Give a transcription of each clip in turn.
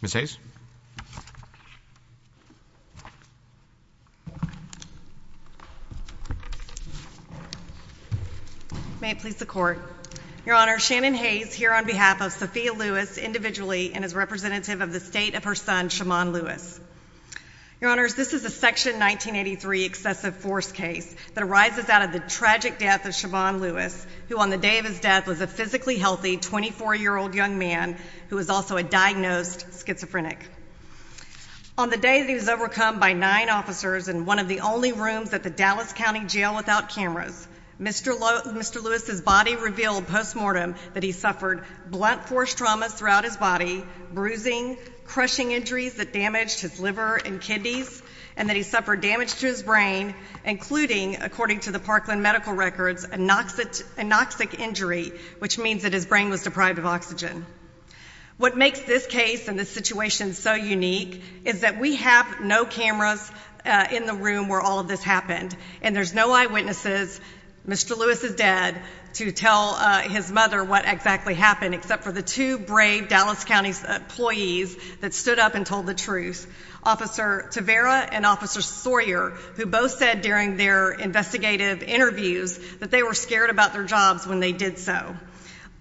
Ms. Hayes. May it please the Court. Your Honor, Shannon Hayes, here on behalf of Sophia Lewis, individually, and as representative of the state of her son, Shimon Lewis. Your Honors, this is a Section 1983 excessive force case that arises out of the tragic death of Shimon Lewis, who on the day of his death was a physically healthy 24-year-old young man who was also a diagnosed schizophrenic. On the day that he was overcome by nine officers in one of the only rooms at the Dallas County Jail without cameras, Mr. Lewis's body revealed post-mortem that he suffered blunt force traumas throughout his body, bruising, crushing injuries that damaged his liver and kidneys, and that he suffered damage to his brain, including, according to the Parkland Medical Records, anoxic injury, which means that his brain was deprived of oxygen. What makes this case and this situation so unique is that we have no cameras in the room where all of this happened, and there's no eyewitnesses, Mr. Lewis's dad, to tell his mother what exactly happened, except for the two brave Dallas County employees that stood up and told the truth. Officer Tavera and Officer Sawyer, who both said during their investigative interviews that they were scared about their jobs when they did so.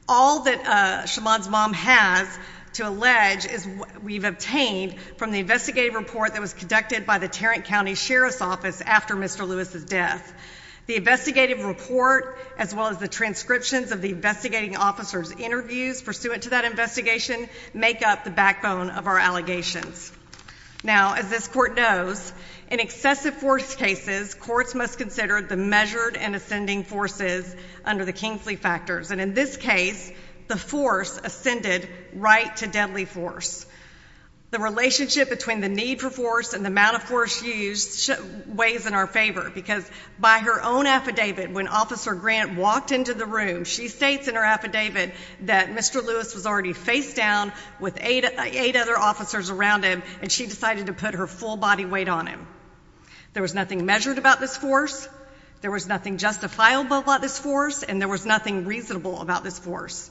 All that Shimon's mom has to allege is what we've obtained from the investigative report that was conducted by the Tarrant County Sheriff's Office after Mr. Lewis's death. The investigative report, as well as the transcriptions of the investigating officer's interviews pursuant to that investigation, make up the backbone of our allegations. Now, as this court knows, in excessive force cases, courts must consider the measured and ascending forces under the Kingsley factors, and in this case, the force ascended right to deadly force. The relationship between the need for force and the amount of force used weighs in our favor, because by her own affidavit, when Officer Grant walked into the room, she states in her affidavit that Mr. Lewis was already facedown with eight other officers around him, and she decided to put her full body weight on him. There was nothing measured about this force, there was nothing justifiable about this force, and there was nothing reasonable about this force.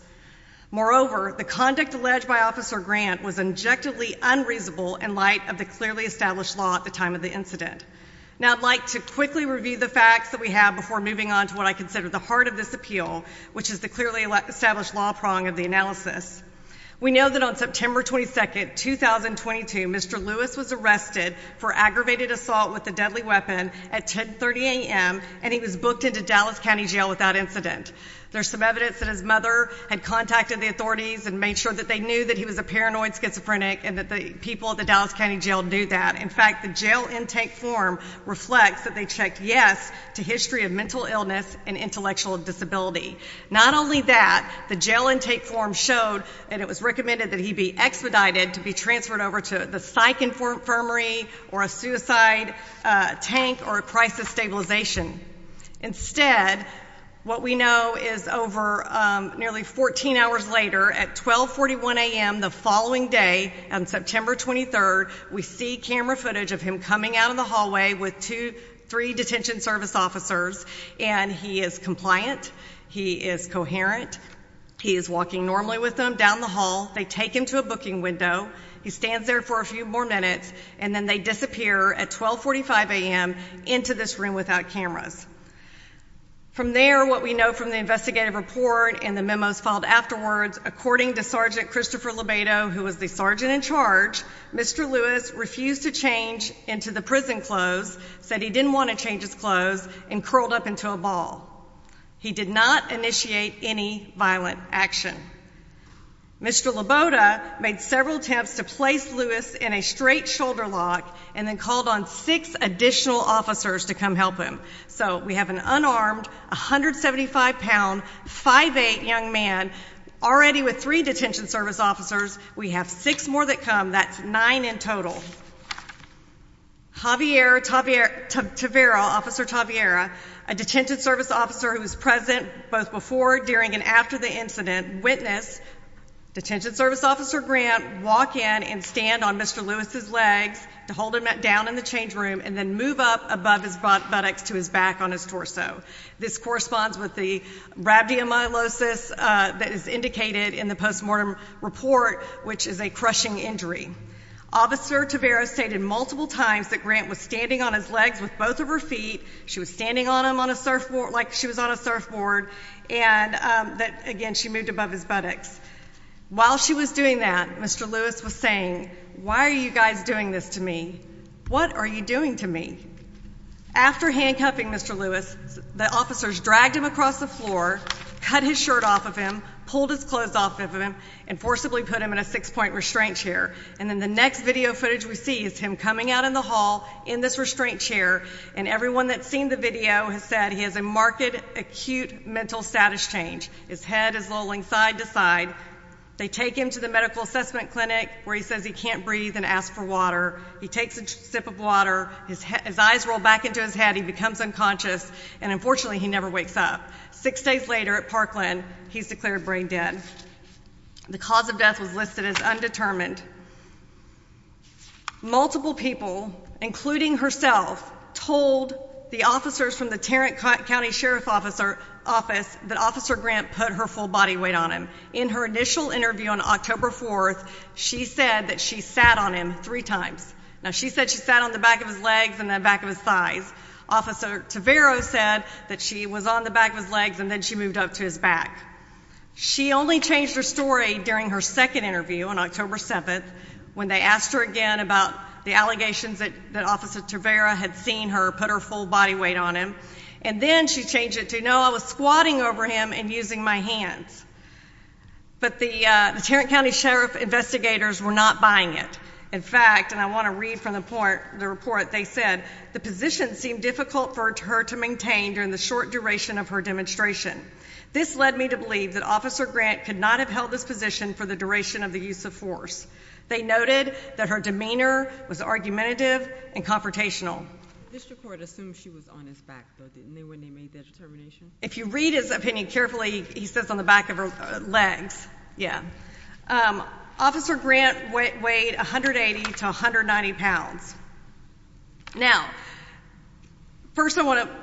Moreover, the conduct alleged by Officer Grant was objectively unreasonable in light of the clearly established law at the time of the incident. Now, I'd like to quickly review the facts that we have before moving on to what I consider the heart of this appeal, which is the clearly established law prong of the analysis. We know that on September 22, 2022, Mr. Lewis was arrested for aggravated assault with a deadly weapon at 10.30 a.m., and he was booked into Dallas County Jail without incident. There's some evidence that his mother had contacted the authorities and made sure that they knew that he was a paranoid schizophrenic, and that the people at the Dallas County Jail knew that. In fact, the jail intake form reflects that they checked yes to history of mental illness and intellectual disability. Not only that, the jail intake form showed that it was recommended that he be expedited to be transferred over to the psych infirmary, or a suicide tank, or a crisis stabilization. Instead, what we know is over nearly 14 hours later, at 12.41 a.m. the following day, on September 23, we see camera footage of him coming out of the hallway with three detention service officers, and he is compliant. He is coherent. He is walking normally with them down the hall. They take him to a booking window. He stands there for a few more minutes, and then they disappear at 12.45 a.m. into this room without cameras. From there, what we know from the investigative report and the memos filed afterwards, according to Sergeant Christopher Lobedo, who was the sergeant in charge, Mr. Lewis refused to change into the prison clothes, said he didn't want to change his clothes, and curled up into a ball. He did not initiate any violent action. Mr. Lobedo made several attempts to place Lewis in a straight shoulder lock, and then called on six additional officers to come help him. So we have an unarmed, 175-pound, 5'8 young man, already with three detention service officers. We have six more that come. That's nine in total. Javier Tavira, Officer Tavira, a detention service officer who was present both before, during, and after the incident, witnessed Detention Service Officer Grant walk in and stand on Mr. Lewis's legs to hold him down in the change room and then move up above his buttocks to his back on his torso. This corresponds with the rhabdomyolysis that is indicated in the postmortem report, which is a crushing injury. Officer Tavira stated multiple times that Grant was standing on his legs with both of her feet, she was standing on him like she was on a surfboard, and that, again, she moved above his buttocks. While she was doing that, Mr. Lewis was saying, Why are you guys doing this to me? What are you doing to me? After handcuffing Mr. Lewis, the officers dragged him across the floor, cut his shirt off of him, pulled his clothes off of him, and forcibly put him in a six-point restraint chair. And then the next video footage we see is him coming out in the hall in this restraint chair, and everyone that's seen the video has said he has a marked acute mental status change. His head is rolling side to side. They take him to the medical assessment clinic where he says he can't breathe and asks for water. He takes a sip of water, his eyes roll back into his head, he becomes unconscious, and unfortunately he never wakes up. Six days later at Parkland, he's declared brain dead. The cause of death was listed as undetermined. Multiple people, including herself, told the officers from the Tarrant County Sheriff's Office that Officer Grant put her full body weight on him. In her initial interview on October 4th, she said that she sat on him three times. Now, she said she sat on the back of his legs and the back of his thighs. Officer Tavaro said that she was on the back of his legs and then she moved up to his back. She only changed her story during her second interview on October 7th when they asked her again about the allegations that Officer Tavaro had seen her put her full body weight on him. And then she changed it to, no, I was squatting over him and using my hands. But the Tarrant County Sheriff's investigators were not buying it. In fact, and I want to read from the report, they said, the position seemed difficult for her to maintain during the short duration of her demonstration. This led me to believe that Officer Grant could not have held this position for the duration of the use of force. They noted that her demeanor was argumentative and confrontational. The district court assumed she was on his back, though, didn't they, when they made that determination? If you read his opinion carefully, he says on the back of her legs, yeah. Officer Grant weighed 180 to 190 pounds. Now, first I want to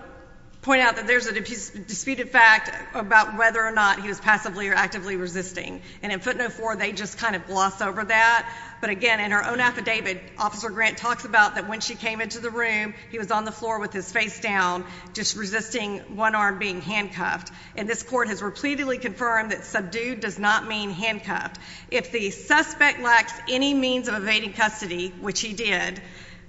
point out that there's a disputed fact about whether or not he was passively or actively resisting. And in footnote four, they just kind of gloss over that. But again, in her own affidavit, Officer Grant talks about that when she came into the room, he was on the floor with his face down, just resisting one arm being handcuffed. And this court has repeatedly confirmed that subdued does not mean handcuffed. If the suspect lacks any means of evading custody, which he did,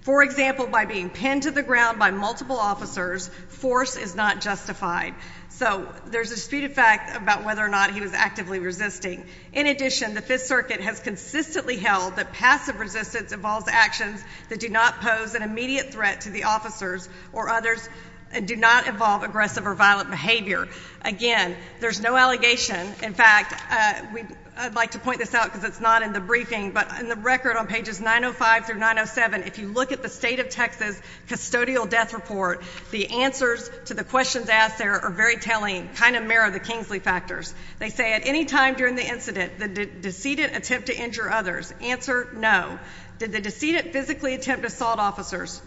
for example, by being pinned to the ground by multiple officers, force is not justified. So there's a disputed fact about whether or not he was actively resisting. In addition, the Fifth Circuit has consistently held that passive resistance involves actions that do not pose an immediate threat to the officers or others and do not involve aggressive or violent behavior. Again, there's no allegation. In fact, I'd like to point this out because it's not in the briefing, but in the record on pages 905 through 907, if you look at the state of Texas custodial death report, the answers to the questions asked there are very telling, kind of mirror the Kingsley factors. They say, at any time during the incident, did the decedent attempt to injure others? Answer, no. Did the decedent physically attempt to assault officers?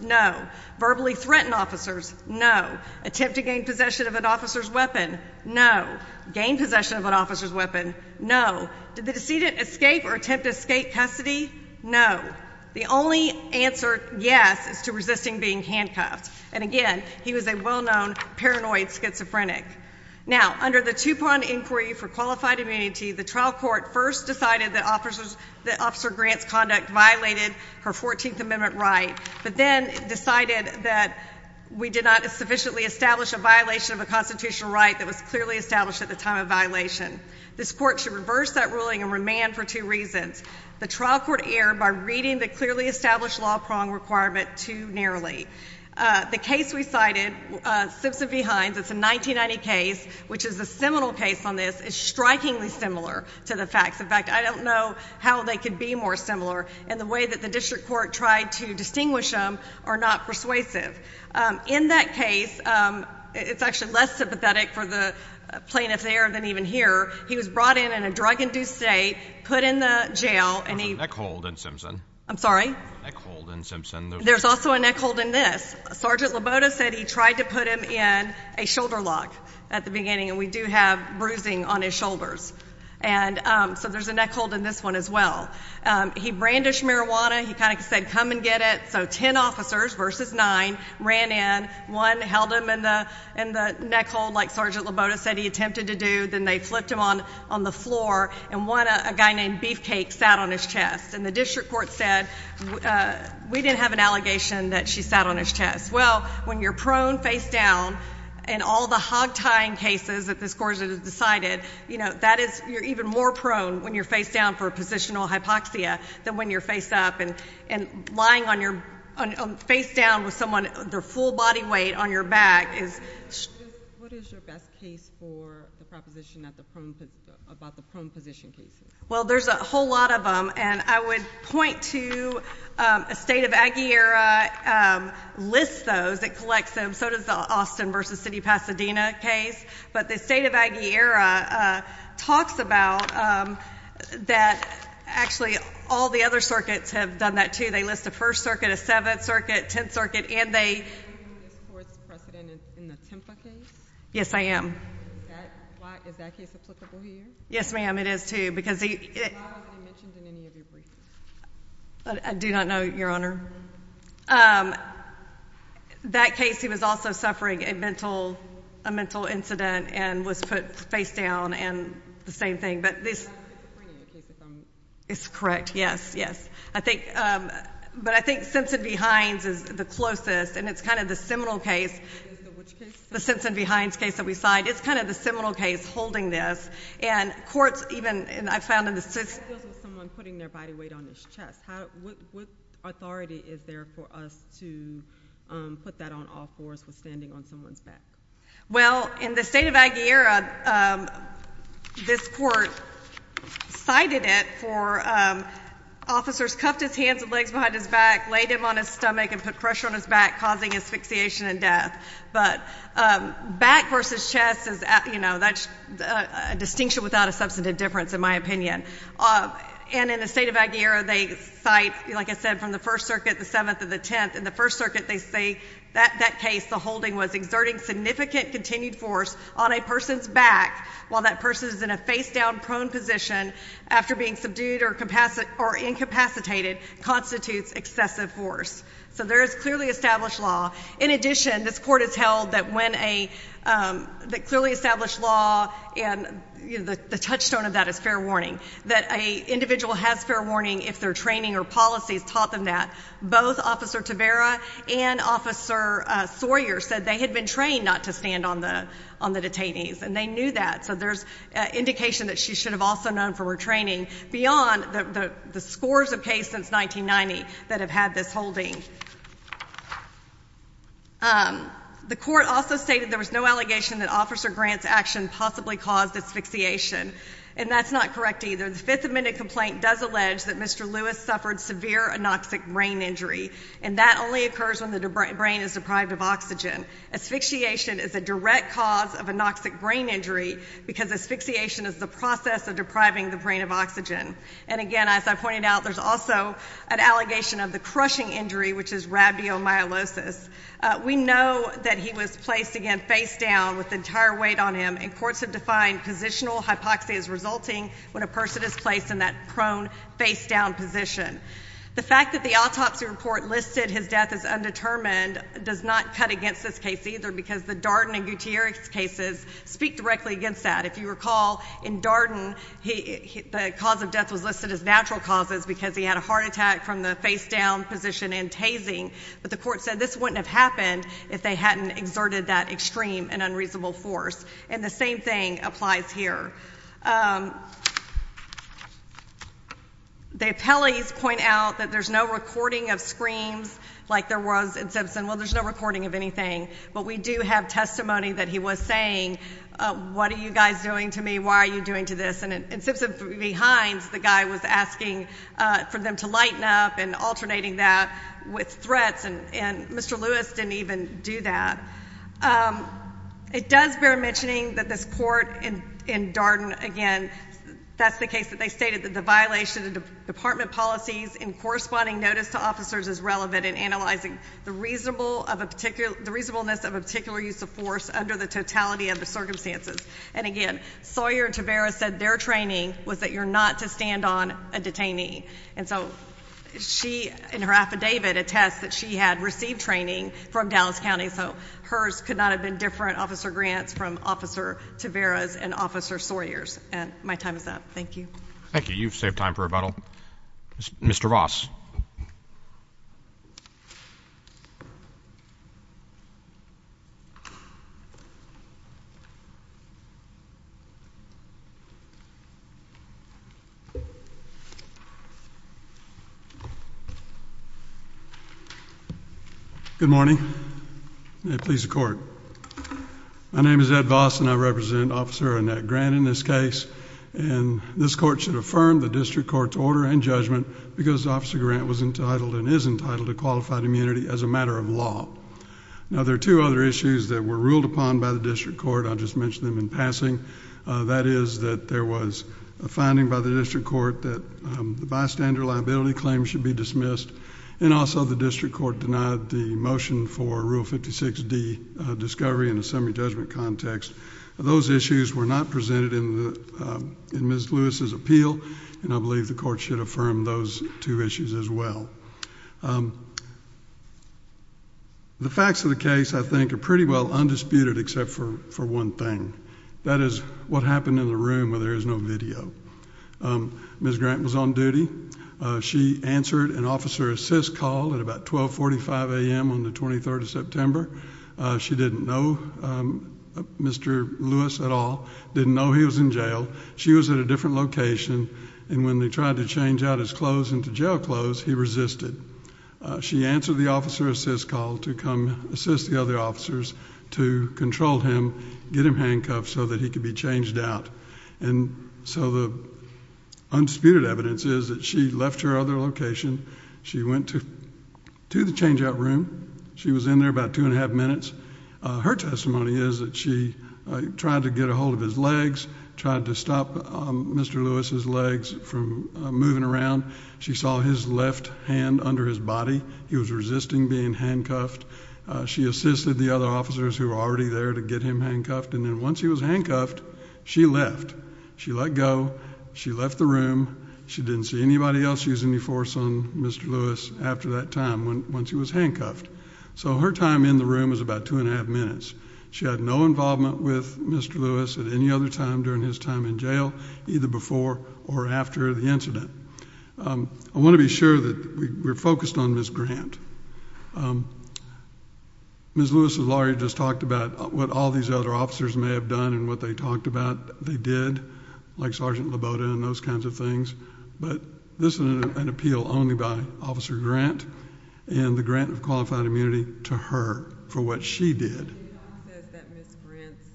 Verbally threaten officers? No. Attempt to gain possession of an officer's weapon? No. Gain possession of an officer's weapon? No. Did the decedent escape or attempt to escape custody? No. The only answer, yes, is to resisting being handcuffed. And again, he was a well-known paranoid schizophrenic. Now, under the Tupon Inquiry for Qualified Immunity, the trial court first decided that Officer Grant's conduct violated her 14th Amendment right, but then decided that we did not sufficiently establish a violation of a constitutional right that was clearly established at the time of violation. This court should reverse that ruling and remand for two reasons. The trial court erred by reading the clearly established law prong requirement too narrowly. The case we cited, Simpson v. Hines, it's a 1990 case, which is a seminal case on this, is strikingly similar to the facts. In fact, I don't know how they could be more similar in the way that the district court tried to distinguish them or not persuasive. In that case, it's actually less sympathetic for the plaintiff there than even here. He was brought in in a drug-induced state, put in the jail, and he— There was a neck hold in Simpson. I'm sorry? There was a neck hold in Simpson. There's also a neck hold in this. Sergeant Laboda said he tried to put him in a shoulder lock at the beginning, and we do have bruising on his shoulders. And so there's a neck hold in this one as well. He brandished marijuana. He kind of said, come and get it. So 10 officers versus 9 ran in. One held him in the neck hold like Sergeant Laboda said he attempted to do. Then they flipped him on the floor, and one, a guy named Beefcake, sat on his chest. And the district court said, we didn't have an allegation that she sat on his chest. Well, when you're prone face-down in all the hog-tying cases that this court has decided, you know, that is— you're even more prone when you're face-down for a positional hypoxia than when you're face-up. And lying face-down with someone, their full body weight on your back is— What is your best case for the proposition about the prone position cases? Well, there's a whole lot of them, and I would point to— a state of Aguillera lists those. It collects them. So does the Austin versus City of Pasadena case. But the state of Aguillera talks about that actually all the other circuits have done that too. They list a First Circuit, a Seventh Circuit, Tenth Circuit, and they— Are you holding this court's precedent in the Tempa case? Yes, I am. Is that case applicable here? Yes, ma'am. It is too, because he— Why wasn't he mentioned in any of your briefs? I do not know, Your Honor. That case, he was also suffering a mental incident and was put face-down, and the same thing. But this— That's the point of the case if I'm— It's correct. Yes, yes. I think—but I think Simpson v. Hines is the closest, and it's kind of the seminal case. It is the which case? The Simpson v. Hines case that we cite. It's kind of the seminal case holding this. And courts even—and I found in the— How does it feel with someone putting their body weight on his chest? What authority is there for us to put that on all fours with standing on someone's back? Well, in the state of Aguilera, this court cited it for officers cuffed his hands and legs behind his back, laid him on his stomach, and put pressure on his back, causing asphyxiation and death. But back versus chest is—you know, that's a distinction without a substantive difference, in my opinion. And in the state of Aguilera, they cite, like I said, from the First Circuit, the 7th and the 10th. In the First Circuit, they say that that case, the holding was exerting significant continued force on a person's back while that person is in a face-down prone position after being subdued or incapacitated constitutes excessive force. So there is clearly established law. In addition, this court has held that when a—that clearly established law and, you know, the touchstone of that is fair warning, that an individual has fair warning if their training or policies taught them that. Both Officer Tavera and Officer Sawyer said they had been trained not to stand on the detainees, and they knew that. So there's indication that she should have also known from her training beyond the scores of cases since 1990 that have had this holding. The court also stated there was no allegation that Officer Grant's action possibly caused asphyxiation, and that's not correct either. The Fifth Amendment complaint does allege that Mr. Lewis suffered severe anoxic brain injury, and that only occurs when the brain is deprived of oxygen. Asphyxiation is a direct cause of anoxic brain injury because asphyxiation is the process of depriving the brain of oxygen. And, again, as I pointed out, there's also an allegation of the crushing injury, which is rhabdomyolysis. We know that he was placed, again, face-down with the entire weight on him, and courts have defined positional hypoxia as resulting when a person is placed in that prone face-down position. The fact that the autopsy report listed his death as undetermined does not cut against this case either because the Darden and Gutierrez cases speak directly against that. If you recall, in Darden, the cause of death was listed as natural causes because he had a heart attack from the face-down position and tasing, but the court said this wouldn't have happened if they hadn't exerted that extreme and unreasonable force. And the same thing applies here. The appellees point out that there's no recording of screams like there was in Simpson. Well, there's no recording of anything, but we do have testimony that he was saying, what are you guys doing to me? Why are you doing to this? And in Simpson v. Hines, the guy was asking for them to lighten up and alternating that with threats, and Mr. Lewis didn't even do that. It does bear mentioning that this court in Darden, again, that's the case that they stated, that the violation of department policies in corresponding notice to officers is relevant in analyzing the reasonableness of a particular use of force under the totality of the circumstances. And, again, Sawyer and Taveras said their training was that you're not to stand on a detainee. And so she, in her affidavit, attests that she had received training from Dallas County. So hers could not have been different, Officer Grant's, from Officer Taveras and Officer Sawyer's. And my time is up. Thank you. Thank you. You've saved time for rebuttal. Mr. Ross. Mr. Ross. Good morning. May it please the Court. My name is Ed Voss, and I represent Officer Annette Grant in this case. And this court should affirm the district court's order and judgment because Officer Grant was entitled and is entitled to qualified immunity as a matter of law. Now, there are two other issues that were ruled upon by the district court. I'll just mention them in passing. That is that there was a finding by the district court that the bystander liability claim should be dismissed, and also the district court denied the motion for Rule 56D discovery in a summary judgment context. Those issues were not presented in Ms. Lewis's appeal, and I believe the court should affirm those two issues as well. The facts of the case, I think, are pretty well undisputed except for one thing. That is what happened in the room where there is no video. Ms. Grant was on duty. She answered an officer assist call at about 1245 a.m. on the 23rd of September. She didn't know Mr. Lewis at all, didn't know he was in jail. She was at a different location, and when they tried to change out his clothes into jail clothes, he resisted. She answered the officer assist call to come assist the other officers to control him, get him handcuffed so that he could be changed out. And so the undisputed evidence is that she left her other location. She went to the change-out room. She was in there about two and a half minutes. Her testimony is that she tried to get a hold of his legs, tried to stop Mr. Lewis's legs from moving around. She saw his left hand under his body. He was resisting being handcuffed. She assisted the other officers who were already there to get him handcuffed, and then once he was handcuffed, she left. She let go. She left the room. She didn't see anybody else use any force on Mr. Lewis after that time when she was handcuffed. So her time in the room was about two and a half minutes. She had no involvement with Mr. Lewis at any other time during his time in jail, either before or after the incident. I want to be sure that we're focused on Ms. Grant. Ms. Lewis's lawyer just talked about what all these other officers may have done and what they talked about they did, like Sergeant Laboda and those kinds of things. But this is an appeal only by Officer Grant and the grant of qualified immunity to her for what she did. It says that Ms. Grant's,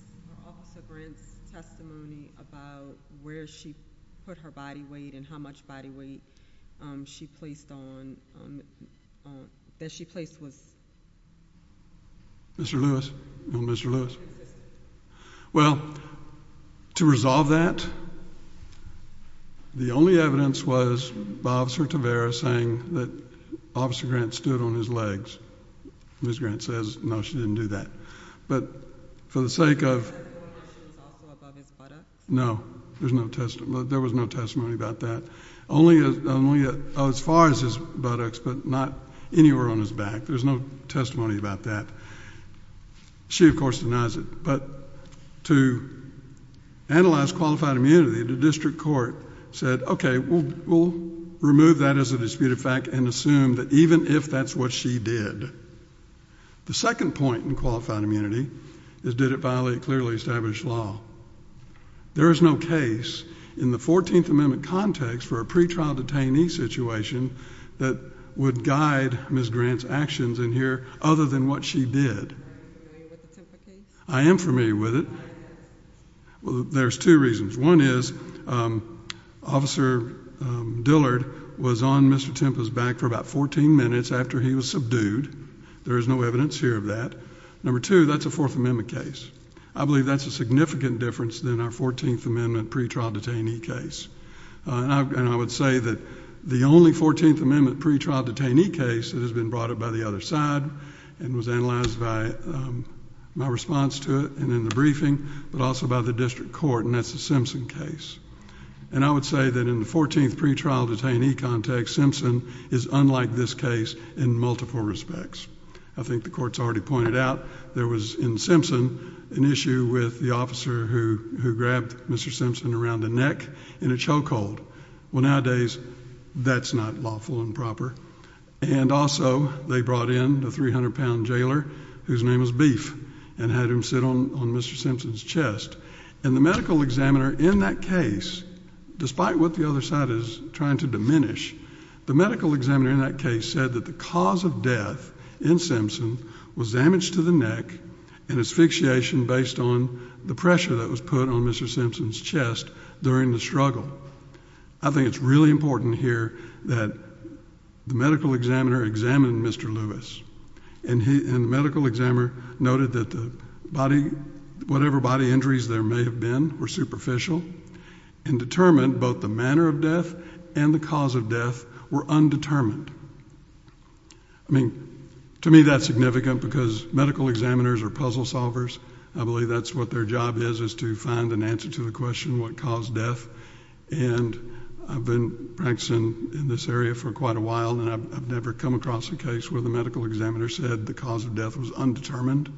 Officer Grant's testimony about where she put her body weight and how much body weight she placed on, that she placed was? Mr. Lewis? No, Mr. Lewis? Well, to resolve that, the only evidence was by Officer Tavera saying that Officer Grant stood on his legs. Ms. Grant says, no, she didn't do that. But for the sake of... She was also above his buttocks? No, there was no testimony about that. Only as far as his buttocks, but not anywhere on his back. There's no testimony about that. She, of course, denies it. But to analyze qualified immunity, the district court said, okay, we'll remove that as a disputed fact and assume that even if that's what she did. The second point in qualified immunity is did it violate clearly established law? There is no case in the 14th Amendment context for a pretrial detainee situation that would guide Ms. Grant's actions in here other than what she did. Are you familiar with the Tempa case? I am familiar with it. Well, there's two reasons. One is Officer Dillard was on Mr. Tempa's back for about 14 minutes after he was subdued. There is no evidence here of that. Number two, that's a Fourth Amendment case. I believe that's a significant difference than our 14th Amendment pretrial detainee case. I would say that the only 14th Amendment pretrial detainee case that has been brought up by the other side and was analyzed by my response to it and in the briefing, but also by the district court, and that's the Simpson case. I would say that in the 14th pretrial detainee context, Simpson is unlike this case in multiple respects. I think the court's already pointed out there was, in Simpson, an issue with the officer who grabbed Mr. Simpson around the neck in a choke hold. Well, nowadays, that's not lawful and proper. And also, they brought in a 300-pound jailer whose name was Beef and had him sit on Mr. Simpson's chest. And the medical examiner in that case, despite what the other side is trying to diminish, the medical examiner in that case said that the cause of death in Simpson was damage to the neck and asphyxiation based on the pressure that was put on Mr. Simpson's chest during the struggle. I think it's really important here that the medical examiner examined Mr. Lewis. And the medical examiner noted that whatever body injuries there may have been were superficial and determined both the manner of death and the cause of death were undetermined. I mean, to me, that's significant because medical examiners are puzzle solvers. I believe that's what their job is, is to find an answer to the question what caused death. And I've been practicing in this area for quite a while, and I've never come across a case where the medical examiner said the cause of death was undetermined.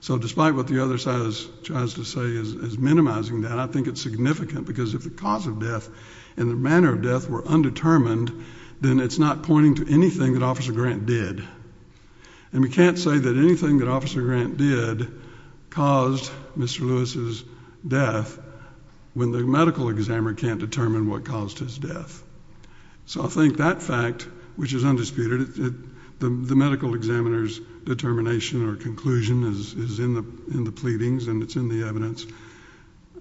So despite what the other side tries to say is minimizing that, I think it's significant because if the cause of death and the manner of death were undetermined, then it's not pointing to anything that Officer Grant did. And we can't say that anything that Officer Grant did caused Mr. Lewis's death when the medical examiner can't determine what caused his death. So I think that fact, which is undisputed, the medical examiner's determination or conclusion is in the pleadings and it's in the evidence.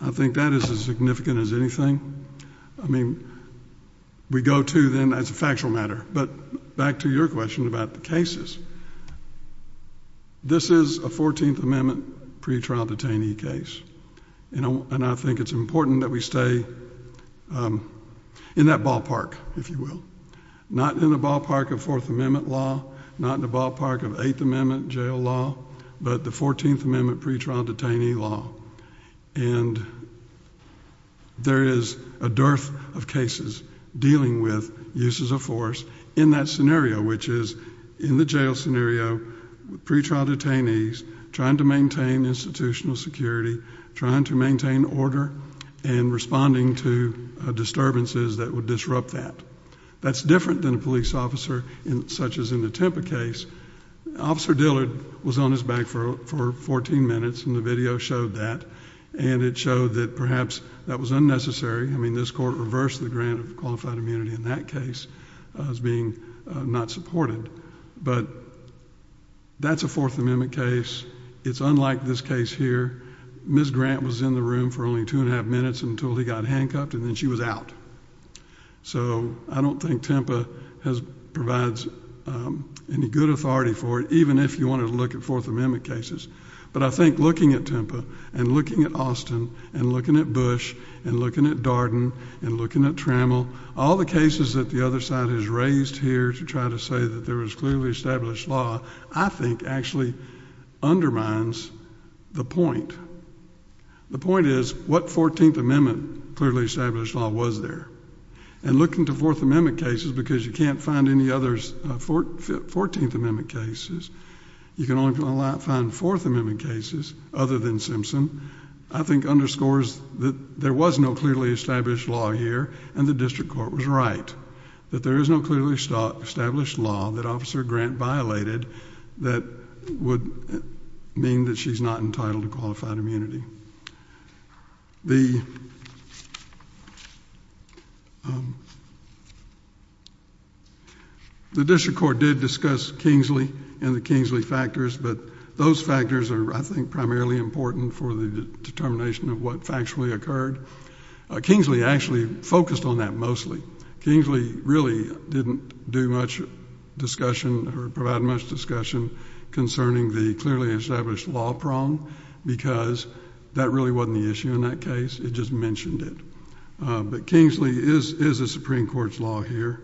I think that is as significant as anything. I mean, we go to then as a factual matter. But back to your question about the cases, this is a 14th Amendment pretrial detainee case. And I think it's important that we stay in that ballpark, if you will. Not in the ballpark of Fourth Amendment law, not in the ballpark of Eighth Amendment jail law, but the 14th Amendment pretrial detainee law. And there is a dearth of cases dealing with uses of force in that scenario, which is in the jail scenario, pretrial detainees trying to maintain institutional security, trying to maintain order, and responding to disturbances that would disrupt that. That's different than a police officer such as in the Tampa case. Officer Dillard was on his back for 14 minutes, and the video showed that. And it showed that perhaps that was unnecessary. I mean, this court reversed the grant of qualified immunity in that case as being not supported. But that's a Fourth Amendment case. It's unlike this case here. Ms. Grant was in the room for only two and a half minutes until he got handcuffed, and then she was out. So I don't think Tampa provides any good authority for it, even if you want to look at Fourth Amendment cases. But I think looking at Tampa and looking at Austin and looking at Bush and looking at Darden and looking at Trammell, all the cases that the other side has raised here to try to say that there was clearly established law, I think actually undermines the point. The point is, what Fourteenth Amendment clearly established law was there? And looking to Fourth Amendment cases, because you can't find any other Fourteenth Amendment cases, you can only find Fourth Amendment cases other than Simpson, I think underscores that there was no clearly established law here, and the district court was right, that there is no clearly established law that Officer Grant violated that would mean that she's not entitled to qualified immunity. The district court did discuss Kingsley and the Kingsley factors, but those factors are, I think, primarily important for the determination of what factually occurred. Kingsley actually focused on that mostly. Kingsley really didn't do much discussion or provide much discussion concerning the clearly established law prong, because that really wasn't the issue in that case. It just mentioned it. But Kingsley is a Supreme Court's law here,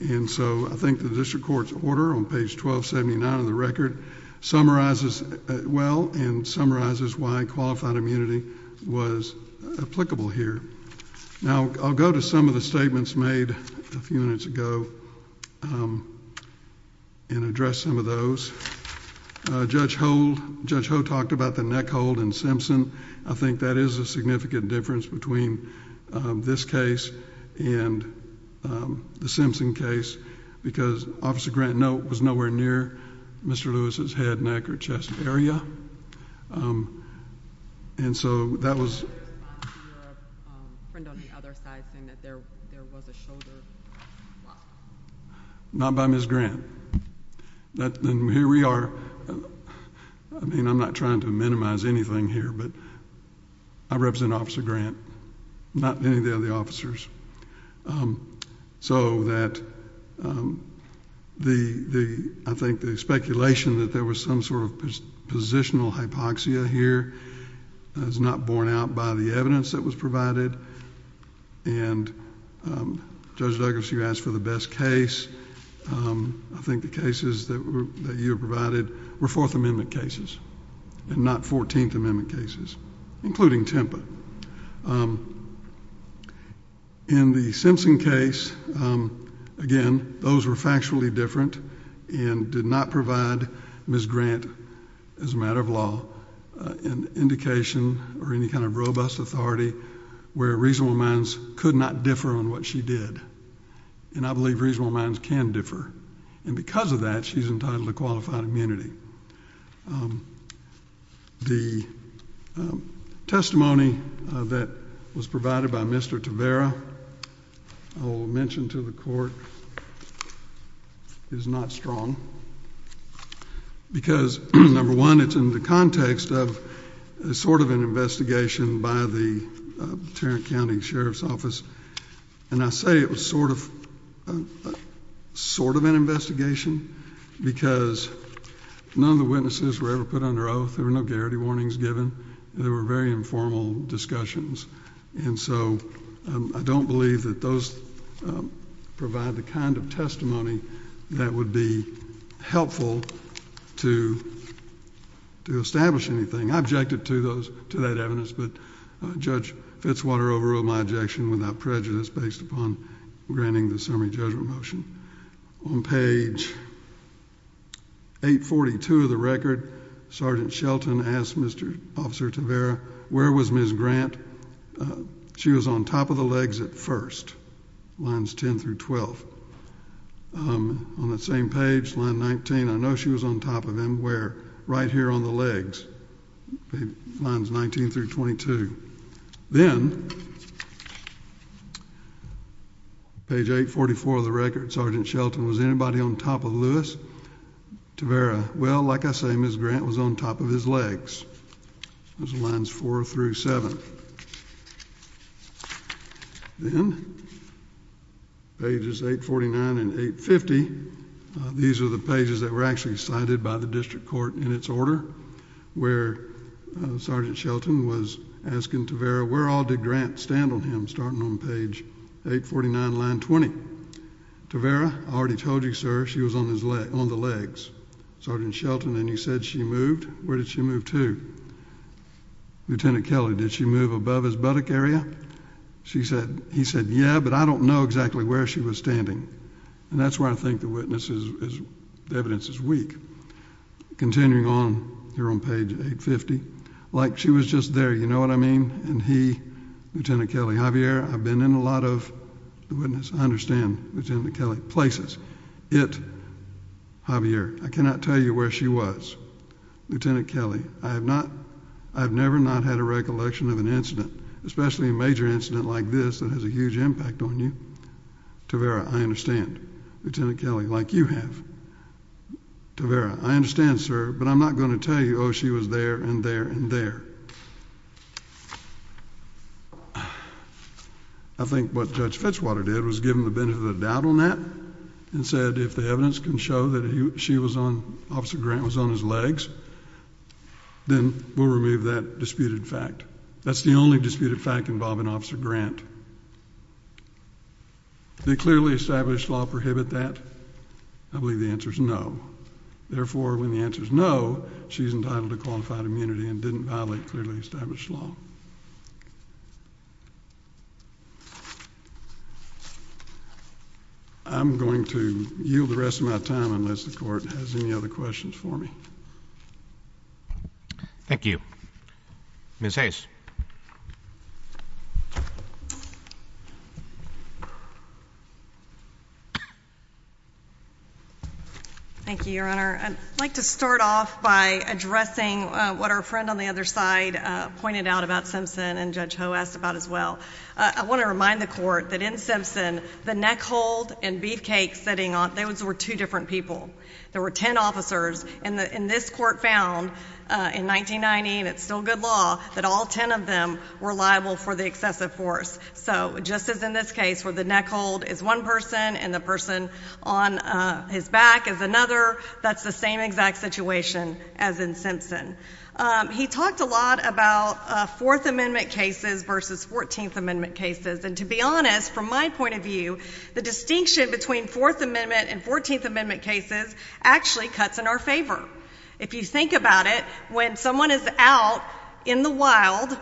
and so I think the district court's order on page 1279 of the record summarizes it well and summarizes why qualified immunity was applicable here. Now, I'll go to some of the statements made a few minutes ago and address some of those. Judge Ho talked about the neck hold in Simpson. I think that is a significant difference between this case and the Simpson case, because Officer Grant was nowhere near Mr. Lewis's head, neck, or chest area. And so that was... Not by Ms. Grant. Here we are. I mean, I'm not trying to minimize anything here, but I represent Officer Grant, not any of the other officers. So that the... I think the speculation that there was some sort of positional hypoxia here is not borne out by the evidence that was provided. And Judge Douglas, you asked for the best case. I think the cases that you provided were Fourth Amendment cases and not Fourteenth Amendment cases, including Tempa. In the Simpson case, again, those were factually different and did not provide Ms. Grant, as a matter of law, an indication or any kind of robust authority where reasonable minds could not differ on what she did. And I believe reasonable minds can differ. And because of that, she's entitled to qualified immunity. The testimony that was provided by Mr. Tavera, I will mention to the Court, is not strong. Because, number one, it's in the context of sort of an investigation by the Tarrant County Sheriff's Office. And I say it was sort of an investigation because none of the witnesses were ever put under oath. There were no garrity warnings given. There were very informal discussions. And so I don't believe that those provide the kind of testimony that would be helpful to establish anything. I objected to that evidence, but Judge Fitzwater overruled my objection without prejudice based upon granting the summary judgment motion. On page 842 of the record, Sergeant Shelton asked Mr. Officer Tavera, where was Ms. Grant? She was on top of the legs at first, lines 10 through 12. On that same page, line 19, I know she was on top of him, where? Right here on the legs, lines 19 through 22. Then, page 844 of the record, Sergeant Shelton, was anybody on top of Lewis Tavera? Well, like I say, Ms. Grant was on top of his legs, lines 4 through 7. Then, pages 849 and 850, these are the pages that were actually cited by the district court in its order, where Sergeant Shelton was asking Tavera, where all did Grant stand on him, starting on page 849, line 20. Tavera, I already told you, sir, she was on the legs. Sergeant Shelton, and he said she moved. Where did she move to? Lieutenant Kelly, did she move above his buttock area? He said, yeah, but I don't know exactly where she was standing. And that's where I think the evidence is weak. Continuing on, here on page 850, like she was just there, you know what I mean? And he, Lieutenant Kelly, Javier, I've been in a lot of, I understand, Lieutenant Kelly, places. It, Javier, I cannot tell you where she was. Lieutenant Kelly, I have not, I have never not had a recollection of an incident, especially a major incident like this that has a huge impact on you. Tavera, I understand. Lieutenant Kelly, like you have. Tavera, I understand, sir, but I'm not going to tell you, oh, she was there and there and there. I think what Judge Fetchwater did was give him the benefit of the doubt on that and said if the evidence can show that she was on, Officer Grant was on his legs, then we'll remove that disputed fact. That's the only disputed fact involving Officer Grant. Did a clearly established law prohibit that? I believe the answer is no. Therefore, when the answer is no, she's entitled to qualified immunity and didn't violate clearly established law. I'm going to yield the rest of my time unless the Court has any other questions for me. Thank you. Ms. Hayes. Thank you, Your Honor. I'd like to start off by addressing what our friend on the other side pointed out about Simpson and Judge Ho asked about as well. I want to remind the Court that in Simpson, the neck hold and beefcake sitting on, those were two different people. There were ten officers, and this Court found in 1990, and it's still good law, that all ten of them were liable for the excessive force. So just as in this case where the neck hold is one person and the person on his back is another, that's the same exact situation as in Simpson. He talked a lot about Fourth Amendment cases versus Fourteenth Amendment cases, and to be honest, from my point of view, the distinction between Fourth Amendment and Fourteenth Amendment cases actually cuts in our favor. If you think about it, when someone is out in the wild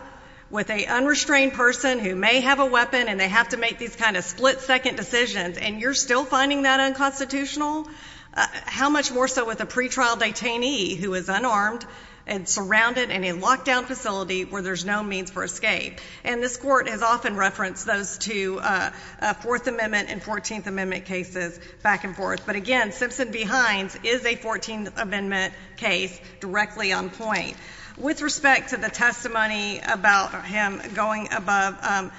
with an unrestrained person who may have a weapon and they have to make these kind of split-second decisions and you're still finding that unconstitutional, how much more so with a pretrial detainee who is unarmed and surrounded in a locked-down facility where there's no means for escape? And this Court has often referenced those two, Fourth Amendment and Fourteenth Amendment cases, back and forth. But again, Simpson v. Hines is a Fourteenth Amendment case directly on point. With respect to the testimony about him going above,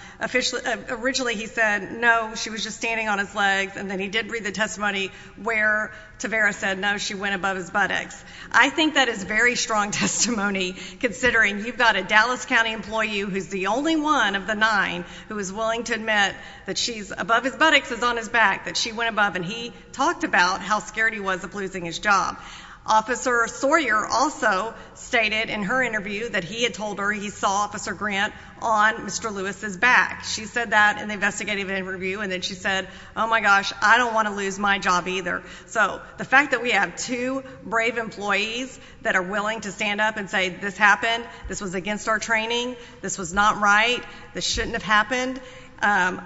originally he said, no, she was just standing on his legs, and then he did read the testimony where Tavares said, no, she went above his buttocks. I think that is very strong testimony, considering you've got a Dallas County employee who's the only one of the nine who is willing to admit that she's above his buttocks, is on his back, that she went above and he talked about how scared he was of losing his job. Officer Sawyer also stated in her interview that he had told her he saw Officer Grant on Mr. Lewis's back. She said that in the investigative interview, and then she said, oh, my gosh, I don't want to lose my job either. So the fact that we have two brave employees that are willing to stand up and say this happened, this was against our training, this was not right, this shouldn't have happened,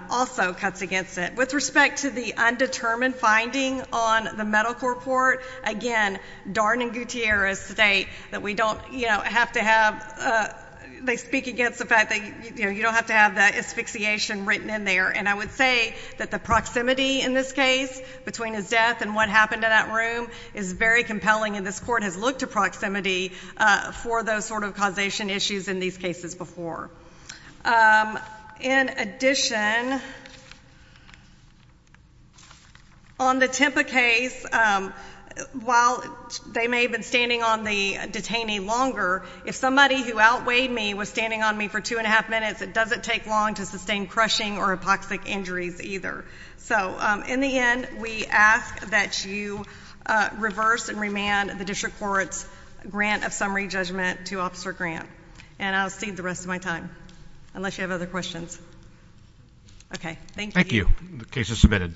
also cuts against it. With respect to the undetermined finding on the medical report, again, Darn and Gutierrez state that we don't have to have, they speak against the fact that you don't have to have the asphyxiation written in there, and I would say that the proximity in this case between his death and what happened in that room is very compelling, and this Court has looked to proximity for those sort of causation issues in these cases before. In addition, on the Tempa case, while they may have been standing on the detainee longer, if somebody who outweighed me was standing on me for two and a half minutes, it doesn't take long to sustain crushing or epoxic injuries either. So in the end, we ask that you reverse and remand the District Court's grant of summary judgment to Officer Grant, and I'll cede the rest of my time, unless you have other questions. Okay, thank you. Thank you. The case is submitted.